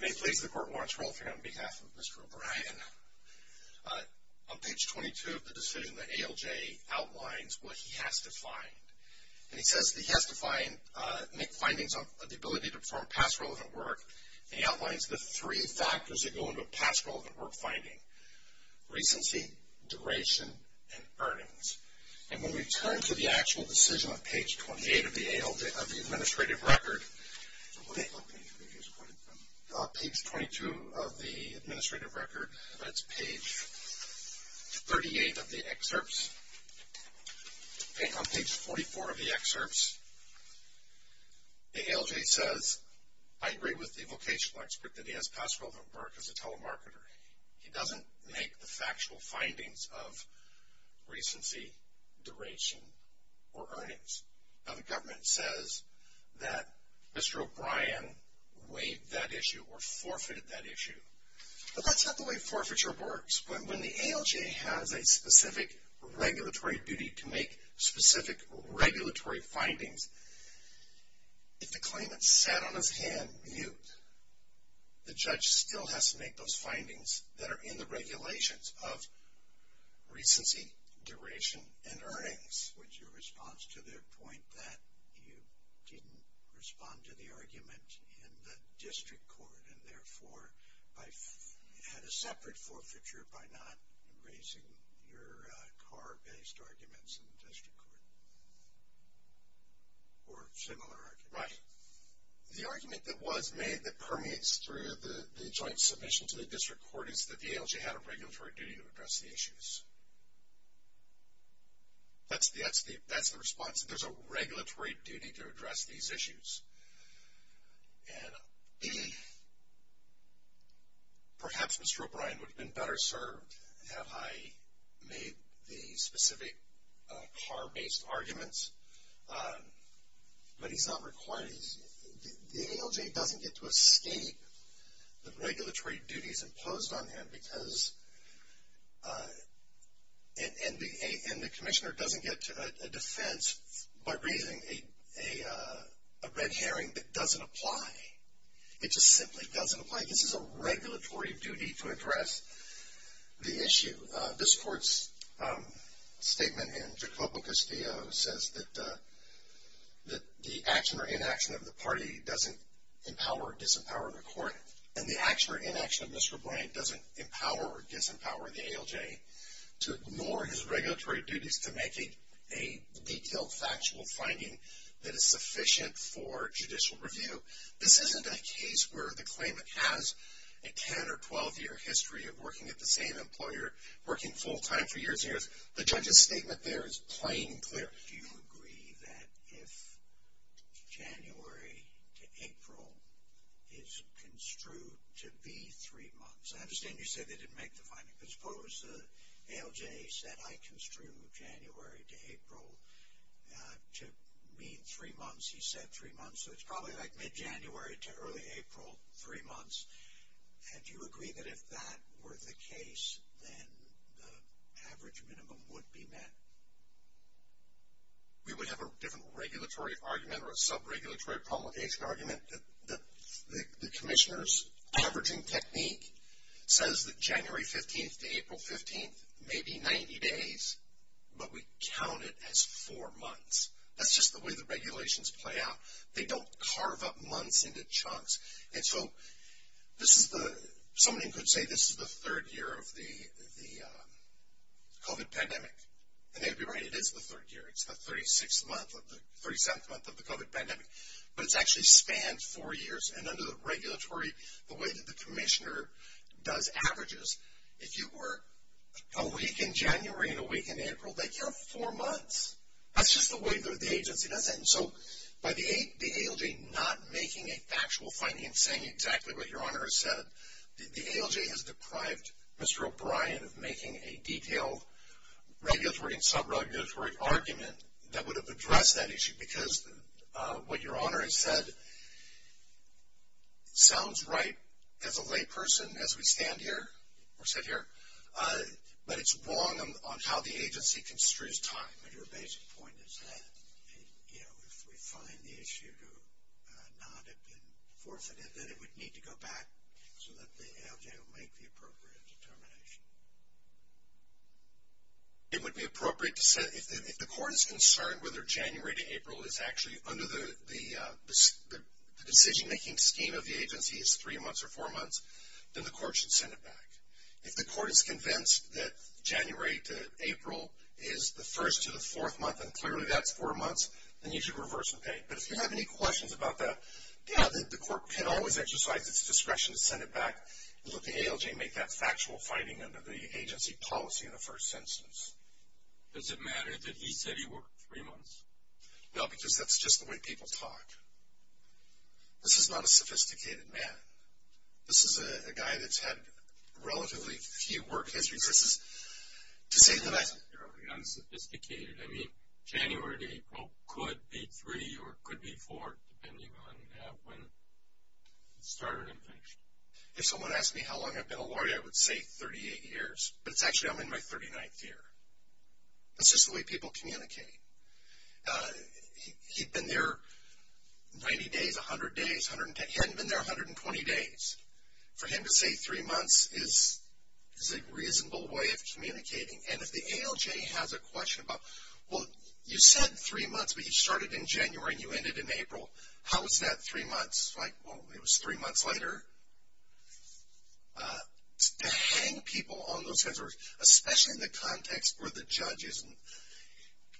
May it please the court, Lawrence Rolfing, on behalf of Mr. O'Brien. On page 22 of the decision, the ALJ outlines what he has to find. And he says that he has to make findings on the ability to perform past relevant work, and he outlines the three factors that go into a past relevant work finding, recency, duration, and earnings. And when we turn to the actual decision on page 28 of the administrative record, on page 22 of the administrative record, that's page 38 of the excerpts, on page 44 of the excerpts, the ALJ says, I agree with the vocational expert that he has past relevant work as a telemarketer. He doesn't make the factual findings of recency, duration, or earnings. Now, the government says that Mr. O'Brien waived that issue or forfeited that issue. But that's not the way forfeiture works. When the ALJ has a specific regulatory duty to make specific regulatory findings, if the claimant sat on his hand mute, the judge still has to make those findings that are in the regulations of recency, duration, and earnings. What's your response to their point that you didn't respond to the argument in the district court and therefore had a separate forfeiture by not raising your car-based arguments in the district court? Or similar arguments? Right. The argument that was made that permeates through the joint submission to the district court is that the ALJ had a regulatory duty to address the issues. That's the response, that there's a regulatory duty to address these issues. And perhaps Mr. O'Brien would have been better served had I made the specific car-based arguments. But he's not required, the ALJ doesn't get to escape the regulatory duties imposed on him because the commissioner doesn't get a defense by raising a red herring that doesn't apply. It just simply doesn't apply. This is a regulatory duty to address the issue. This court's statement in Jacobo Castillo says that the action or inaction of the party doesn't empower or disempower the court. And the action or inaction of Mr. O'Brien doesn't empower or disempower the ALJ to ignore his regulatory duties to make a detailed factual finding that is sufficient for judicial review. This isn't a case where the claimant has a 10 or 12-year history of working at the same employer, working full-time for years and years. Do you agree that if January to April is construed to be three months? I understand you said they didn't make the finding. But suppose the ALJ said, I construe January to April to be three months. He said three months. So it's probably like mid-January to early April, three months. And do you agree that if that were the case, then the average minimum would be met? We would have a different regulatory argument or a sub-regulatory promulgation argument. The commissioner's averaging technique says that January 15th to April 15th may be 90 days. But we count it as four months. That's just the way the regulations play out. They don't carve up months into chunks. And so somebody could say this is the third year of the COVID pandemic. And they would be right. It is the third year. It's the 36th month or the 37th month of the COVID pandemic. But it's actually spanned four years. And under the regulatory, the way that the commissioner does averages, if you were a week in January and a week in April, they count four months. That's just the way the agency does it. And so by the ALJ not making a factual finding and saying exactly what Your Honor has said, the ALJ has deprived Mr. O'Brien of making a detailed regulatory and sub-regulatory argument that would have addressed that issue. Because what Your Honor has said sounds right as a layperson as we stand here, or sit here, but it's wrong on how the agency construes time. Your basic point is that if we find the issue to not have been forfeited, then it would need to go back so that the ALJ will make the appropriate determination. It would be appropriate to say if the court is concerned whether January to April is actually under the decision-making scheme of the agency is three months or four months, then the court should send it back. If the court is convinced that January to April is the first to the fourth month, and clearly that's four months, then you should reverse and pay. But if you have any questions about that, yeah, the court can always exercise its discretion to send it back and let the ALJ make that factual finding under the agency policy in the first instance. Does it matter that he said he worked three months? No, because that's just the way people talk. This is not a sophisticated man. This is a guy that's had relatively few work histories. This is to say that I... Unsophisticated. I mean, January to April could be three or could be four, depending on when it started and finished. If someone asked me how long I've been a lawyer, I would say 38 years, but it's actually I'm in my 39th year. That's just the way people communicate. He'd been there 90 days, 100 days, 110. He hadn't been there 120 days. For him to say three months is a reasonable way of communicating, and if the ALJ has a question about, well, you said three months, but you started in January and you ended in April. How is that three months? Like, well, it was three months later. To hang people on those kinds of... Especially in the context where the judge is...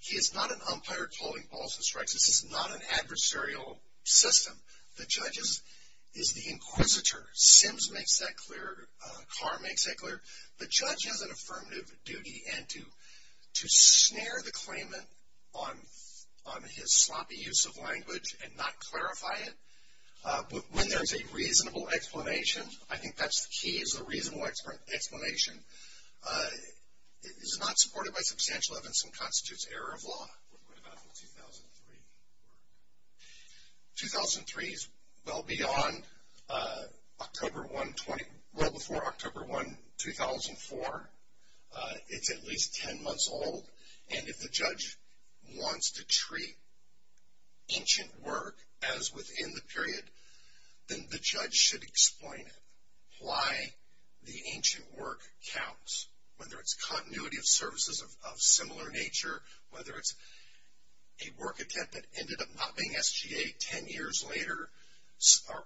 He is not an umpire calling balls and strikes. This is not an adversarial system. The judge is the inquisitor. Sims makes that clear. Carr makes that clear. The judge has an affirmative duty. And to snare the claimant on his sloppy use of language and not clarify it, when there's a reasonable explanation, I think that's the key, is a reasonable explanation is not supported by substantial evidence and constitutes error of law. What about the 2003 work? 2003 is well beyond October 1, 20... Well before October 1, 2004. It's at least 10 months old, and if the judge wants to treat ancient work as within the period, then the judge should explain it, why the ancient work counts, whether it's continuity of services of similar nature, whether it's a work attempt that ended up not being SGA ten years later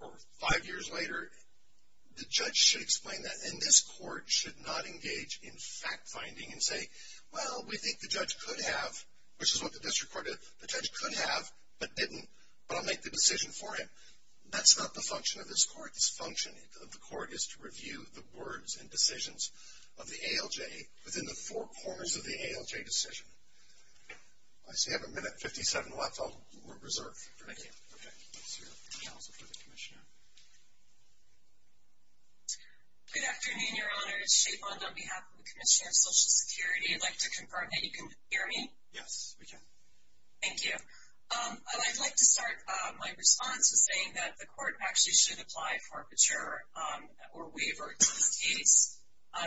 or five years later. The judge should explain that. And this court should not engage in fact-finding and say, well, we think the judge could have, which is what the district court did, the judge could have but didn't, but I'll make the decision for him. That's not the function of this court. The function of the court is to review the words and decisions of the ALJ within the four corners of the ALJ decision. I see we have a minute and 57 left. We're reserved. Thank you. Okay. Let's hear it from the counsel for the commissioner. Good afternoon, Your Honor. It's Shea Bond on behalf of the Commissioner of Social Security. I'd like to confirm that you can hear me? Yes, we can. Thank you. I'd like to start my response with saying that the court actually should apply for a mature or waver to this case.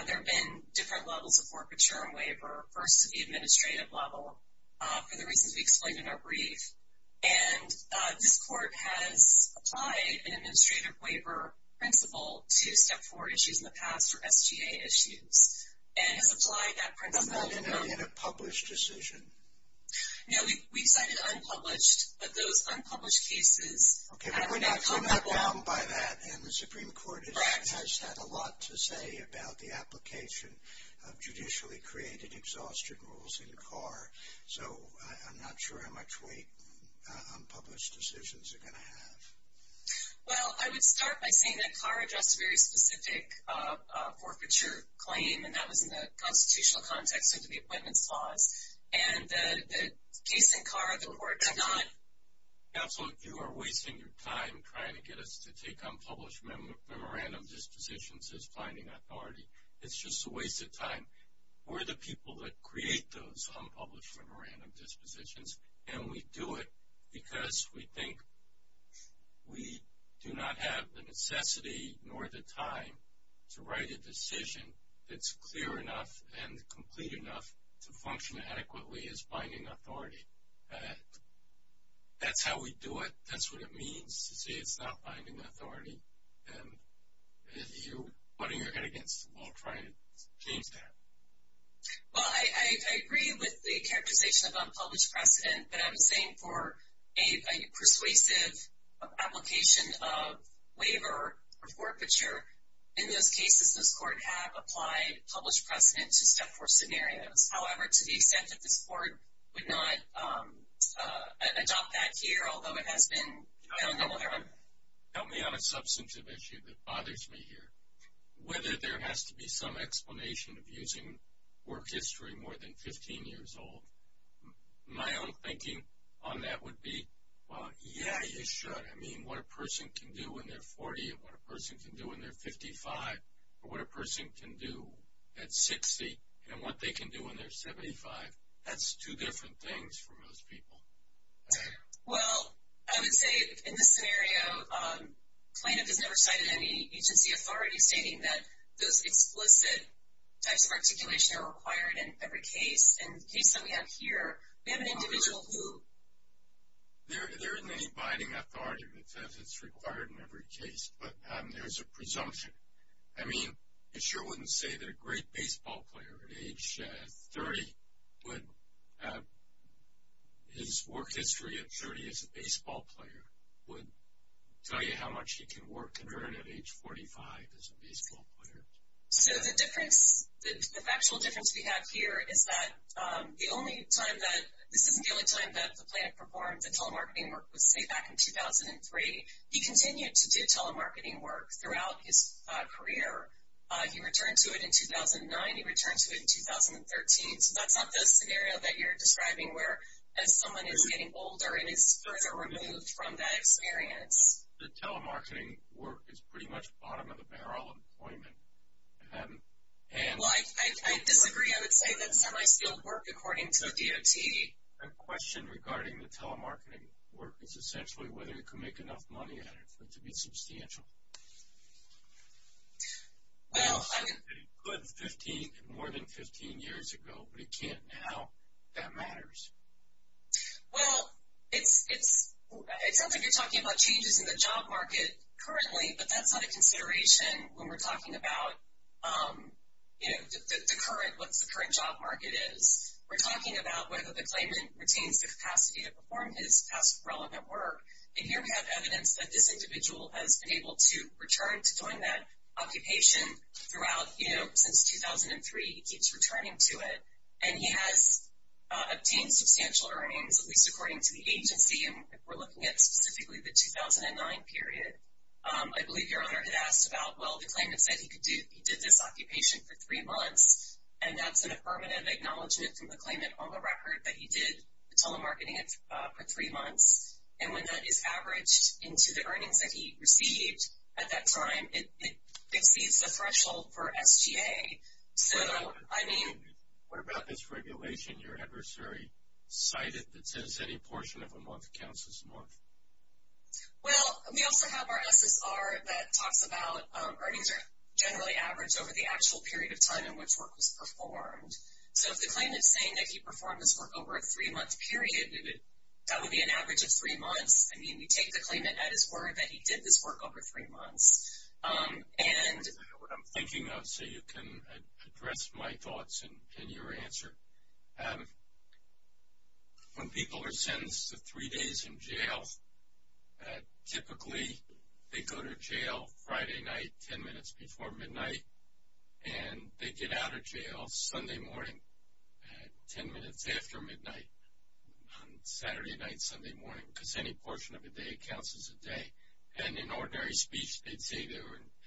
There have been different levels of forfeiture and waver, first at the administrative level for the reasons we explained in our brief. And this court has applied an administrative waver principle to Step 4 issues in the past or SGA issues and has applied that principle. Not in a published decision? No, we cited unpublished, but those unpublished cases have not come up well. No, they have not come up well by that, and the Supreme Court has had a lot to say about the application of judicially created exhaustion rules in CAR. So I'm not sure how much weight unpublished decisions are going to have. Well, I would start by saying that CAR addressed a very specific forfeiture claim, and that was in the constitutional context under the Appointments Clause. And the case in CAR, the court did not. Counselor, you are wasting your time trying to get us to take unpublished memorandum dispositions as binding authority. It's just a waste of time. We're the people that create those unpublished memorandum dispositions, and we do it because we think we do not have the necessity nor the time to write a decision that's clear enough and complete enough to function adequately as binding authority. That's how we do it. That's what it means to say it's not binding authority, and you're putting your head against the wall trying to change that. Well, I agree with the characterization of unpublished precedent, but I'm saying for a persuasive application of waiver or forfeiture, in those cases, this court have applied published precedent to step four scenarios. However, to the extent that this court would not adopt that here, although it has been done in other ways. Help me on a substantive issue that bothers me here. Whether there has to be some explanation of using work history more than 15 years old, my own thinking on that would be, well, yeah, you should. I mean, what a person can do when they're 40 and what a person can do when they're 55 or what a person can do at 60 and what they can do when they're 75, that's two different things for most people. Well, I would say in this scenario, plaintiff has never cited any agency authority stating that those explicit types of articulation are required in every case. In the case that we have here, we have an individual who. There isn't any binding authority that says it's required in every case, but there's a presumption. I mean, it sure wouldn't say that a great baseball player at age 30 would have his work history at 30 as a baseball player would tell you how much he can work at age 45 as a baseball player. So the difference, the factual difference we have here is that the only time that, this isn't the only time that the plaintiff performed the telemarketing work. Let's say back in 2003, he continued to do telemarketing work throughout his career. He returned to it in 2009. He returned to it in 2013. So that's not the scenario that you're describing where as someone is getting older and is further removed from that experience. The telemarketing work is pretty much bottom of the barrel employment. Well, I disagree. I would say that semi-skilled work according to the DOT. My question regarding the telemarketing work is essentially whether you can make enough money at it to be substantial. Well, I mean. You could 15, more than 15 years ago, but you can't now. That matters. Well, it sounds like you're talking about changes in the job market currently, but that's not a consideration when we're talking about, you know, the current, what the current job market is. We're talking about whether the claimant retains the capacity to perform his past relevant work, and here we have evidence that this individual has been able to return to doing that occupation throughout, you know, since 2003. He keeps returning to it, and he has obtained substantial earnings, at least according to the agency, and we're looking at specifically the 2009 period. I believe your owner had asked about, well, the claimant said he did this occupation for three months, and that's an affirmative acknowledgement from the claimant on the record that he did telemarketing it for three months, and when that is averaged into the earnings that he received at that time, it exceeds the threshold for SGA. So, I mean. What about this regulation your adversary cited that says any portion of a month counts as a month? Well, we also have our SSR that talks about earnings are generally averaged over the actual period of time in which work was performed. So, if the claimant is saying that he performed this work over a three-month period, that would be an average of three months. I mean, we take the claimant at his word that he did this work over three months, and. I don't know what I'm thinking of, so you can address my thoughts and your answer. When people are sentenced to three days in jail, typically they go to jail Friday night, 10 minutes before midnight, and they get out of jail Sunday morning, 10 minutes after midnight, on Saturday night, Sunday morning, because any portion of a day counts as a day, and in ordinary speech, they'd say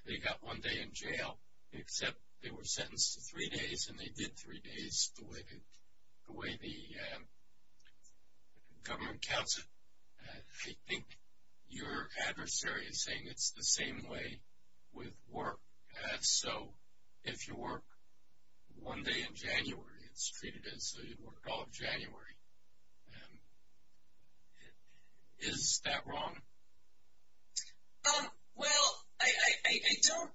they got one day in jail, except they were sentenced to three days, and they did three days the way the government counts it. I think your adversary is saying it's the same way with work. So, if you work one day in January, it's treated as though you worked all of January. Is that wrong? Well, I don't,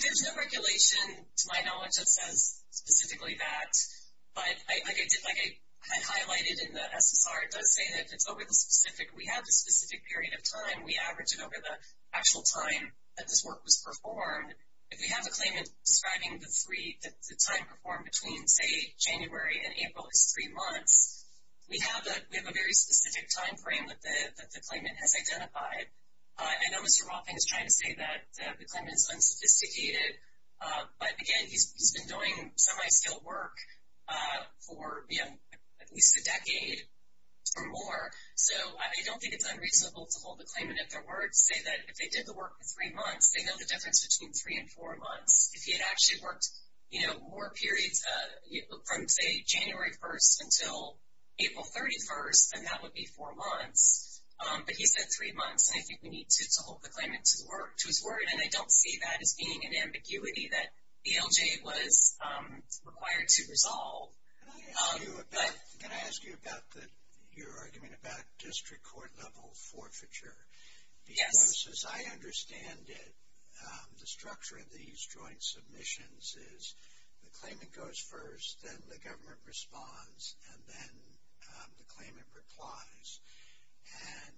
there's no regulation to my knowledge that says specifically that, but like I highlighted in the SSR, it does say that if it's over the specific, we have the specific period of time, we average it over the actual time that this work was performed. If we have a claimant describing the time performed between, say, January and April as three months, we have a very specific time frame that the claimant has identified. I know Mr. Rothman is trying to say that the claimant is unsophisticated, but, again, he's been doing semi-skilled work for at least a decade or more, so I don't think it's unreasonable to hold the claimant at their word, say that if they did the work for three months, they know the difference between three and four months. If he had actually worked more periods from, say, January 1st until April 31st, then that would be four months. But he said three months, and I think we need to hold the claimant to his word, and I don't see that as being an ambiguity that ALJ was required to resolve. Can I ask you about your argument about district court-level forfeiture? Yes. As I understand it, the structure of these joint submissions is the claimant goes first, then the government responds, and then the claimant replies. And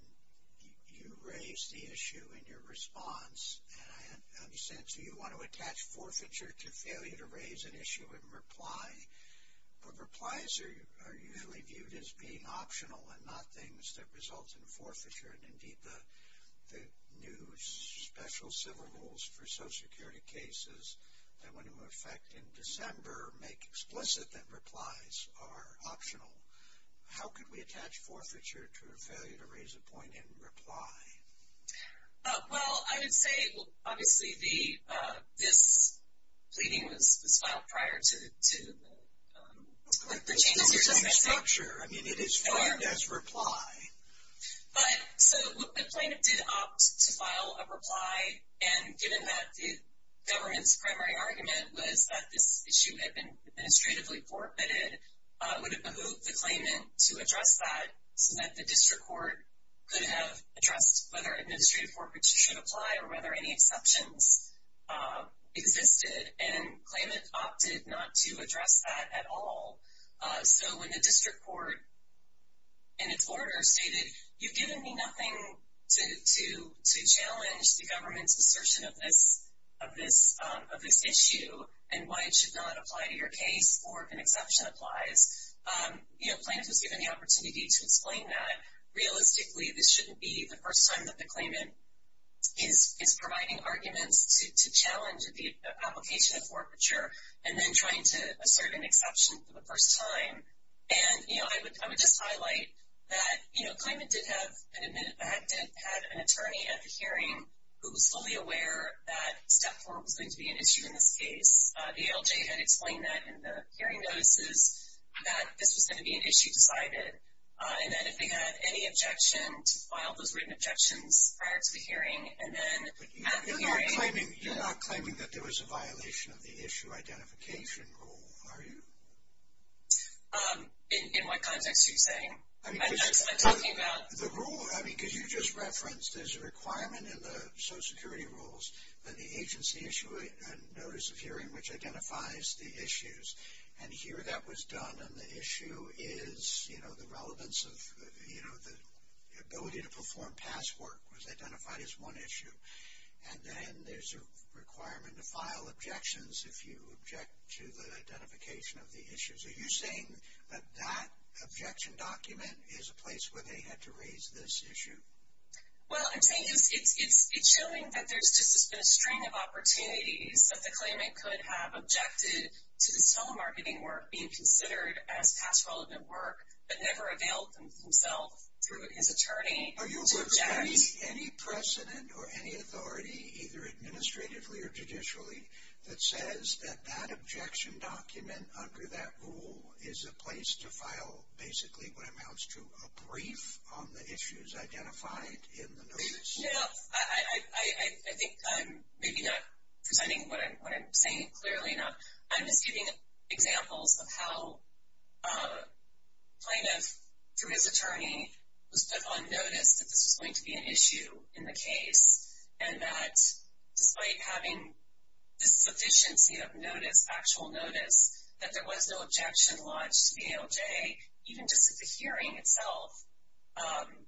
you raise the issue in your response, and I understand so you want to attach forfeiture to failure to raise an issue in reply, but replies are usually viewed as being optional and not things that result in forfeiture, and indeed the new special civil rules for Social Security cases that went into effect in December make explicit that replies are optional. How could we attach forfeiture to a failure to raise a point in reply? Well, I would say, obviously, this pleading was filed prior to the changes you're just making. I'm not sure. I mean, it is filed as reply. So the claimant did opt to file a reply, and given that the government's primary argument was that this issue had been administratively forfeited, it would have behooved the claimant to address that so that the district court could have addressed whether administrative forfeiture should apply or whether any exceptions existed, and the claimant opted not to address that at all. So when the district court, in its order, stated, you've given me nothing to challenge the government's assertion of this issue and why it should not apply to your case or if an exception applies, plaintiff is given the opportunity to explain that. Realistically, this shouldn't be the first time that the claimant is providing arguments to challenge the application of forfeiture and then trying to assert an exception for the first time. And, you know, I would just highlight that, you know, a claimant did have an attorney at the hearing who was fully aware that step four was going to be an issue in this case. The ALJ had explained that in the hearing notices that this was going to be an issue decided, and that if they had any objection, to file those written objections prior to the hearing. But you're not claiming that there was a violation of the issue identification rule, are you? In what context are you saying? I mean, because you just referenced there's a requirement in the Social Security rules that the agency issue a notice of hearing which identifies the issues. And here that was done, and the issue is, you know, the relevance of, you know, the ability to perform past work was identified as one issue. And then there's a requirement to file objections if you object to the identification of the issues. Are you saying that that objection document is a place where they had to raise this issue? Well, I'm saying it's showing that there's just been a string of opportunities that the claimant could have objected to this telemarketing work being considered as past relevant work, but never availed themselves through his attorney to object. Are you illustrating any precedent or any authority, either administratively or judicially, that says that that objection document under that rule is a place to file basically what amounts to a brief on the issues identified in the notice? No, no. I think I'm maybe not presenting what I'm saying clearly enough. I'm just giving examples of how plaintiff, through his attorney, was put on notice that this was going to be an issue in the case, and that despite having the sufficiency of notice, actual notice, that there was no objection lodged to the ALJ, even just at the hearing itself,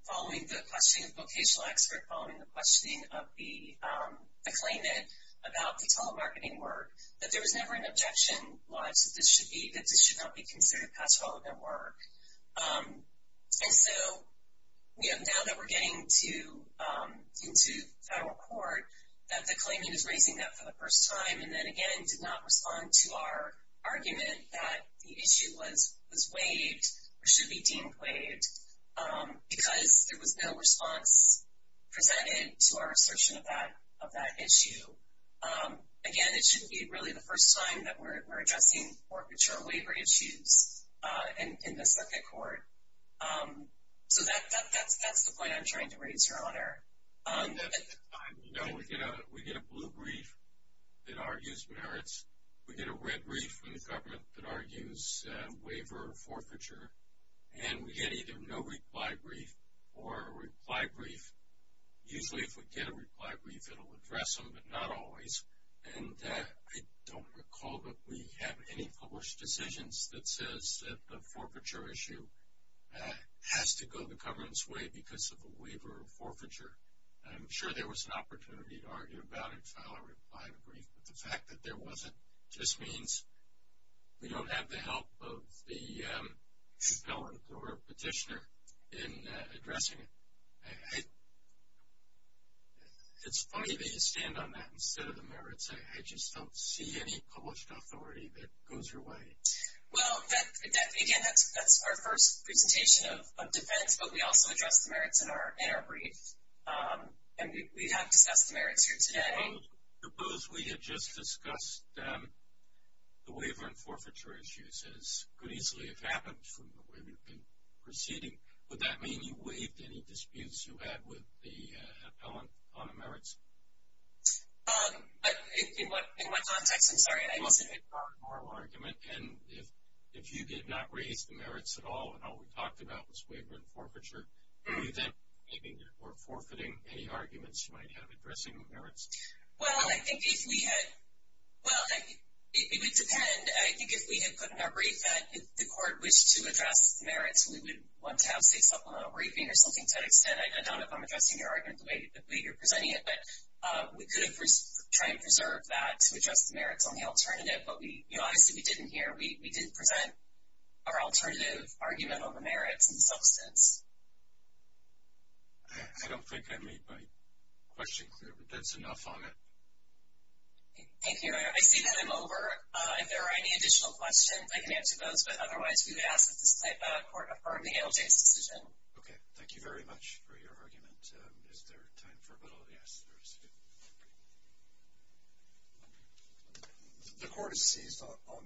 following the questioning of vocational expert, following the questioning of the claimant about the telemarketing work, that there was never an objection lodged that this should not be considered past relevant work. And so now that we're getting into federal court, that the claimant is raising that for the first time and then again did not respond to our argument that the issue was waived or should be deemed waived because there was no response presented to our assertion of that issue. Again, it shouldn't be really the first time that we're addressing forfeiture or waiver issues in the second court. So that's the point I'm trying to raise, Your Honor. We get a blue brief that argues merits. We get a red brief from the government that argues waiver or forfeiture. And we get either no reply brief or a reply brief. Usually if we get a reply brief, it will address them, but not always. And I don't recall that we have any published decisions that says that the forfeiture issue has to go the government's way because of a waiver or forfeiture. I'm sure there was an opportunity to argue about it, file a reply or a brief, but the fact that there wasn't just means we don't have the help of the felon or petitioner in addressing it. It's funny that you stand on that instead of the merits. I just don't see any published authority that goes your way. Well, again, that's our first presentation of defense, but we also address the merits in our brief. And we have discussed the merits here today. Suppose we had just discussed the waiver and forfeiture issues as could easily have happened from the way we've been proceeding. Would that mean you waived any disputes you had with the appellant on the merits? In what context? I'm sorry. It was a moral argument. And if you did not raise the merits at all and all we talked about was waiver and forfeiture, you then were forfeiting any arguments you might have addressing the merits? Well, I think if we had put in our brief that if the court wished to address the merits, we would want to have, say, supplemental briefing or something to that extent. I don't know if I'm addressing your argument the way you're presenting it, but we could have tried to preserve that to address the merits on the alternative. But, honestly, we didn't here. We didn't present our alternative argument on the merits in the substance. I don't think I made my question clear, but that's enough on it. Thank you. I see that I'm over. If there are any additional questions, I can answer those. But, otherwise, we would ask that the court affirm the ALJ's decision. Okay. Thank you very much for your argument. Is there time for a vote of yes? The court has seized on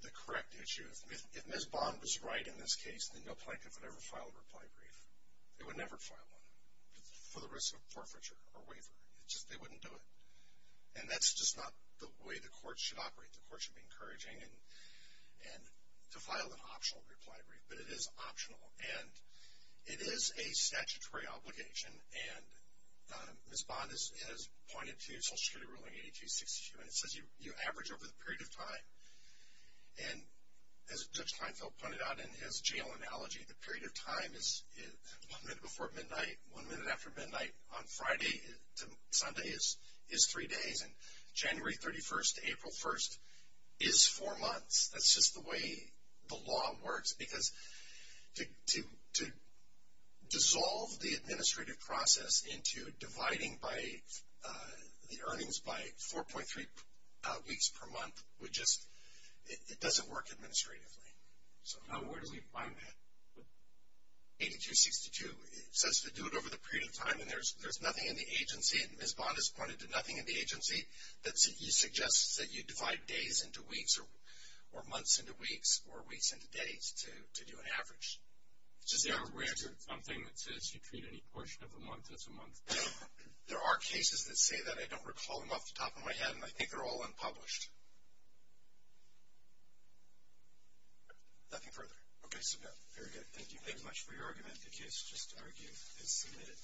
the correct issue. If Ms. Bond was right in this case, then no plaintiff would ever file a reply brief. They would never file one for the risk of forfeiture or waiver. It's just they wouldn't do it. And that's just not the way the court should operate. The court should be encouraging to file an optional reply brief. But it is optional. And it is a statutory obligation. And Ms. Bond has pointed to Social Security ruling 8262, and it says you average over the period of time. And as Judge Kleinfeld pointed out in his jail analogy, the period of time is one minute before midnight, one minute after midnight. On Friday to Sunday is three days. And January 31st to April 1st is four months. That's just the way the law works. Because to dissolve the administrative process into dividing the earnings by 4.3 weeks per month, it doesn't work administratively. So where do we find that? 8262 says to do it over the period of time. And there's nothing in the agency. Ms. Bond has pointed to nothing in the agency that suggests that you divide days into weeks or months into weeks or weeks into days to do an average. Which is the only way to do something that says you treat any portion of a month as a month. There are cases that say that. I don't recall them off the top of my head. And I think they're all unpublished. Nothing further. Okay, so no. Very good. Thank you very much for your argument. The case is just argued and submitted.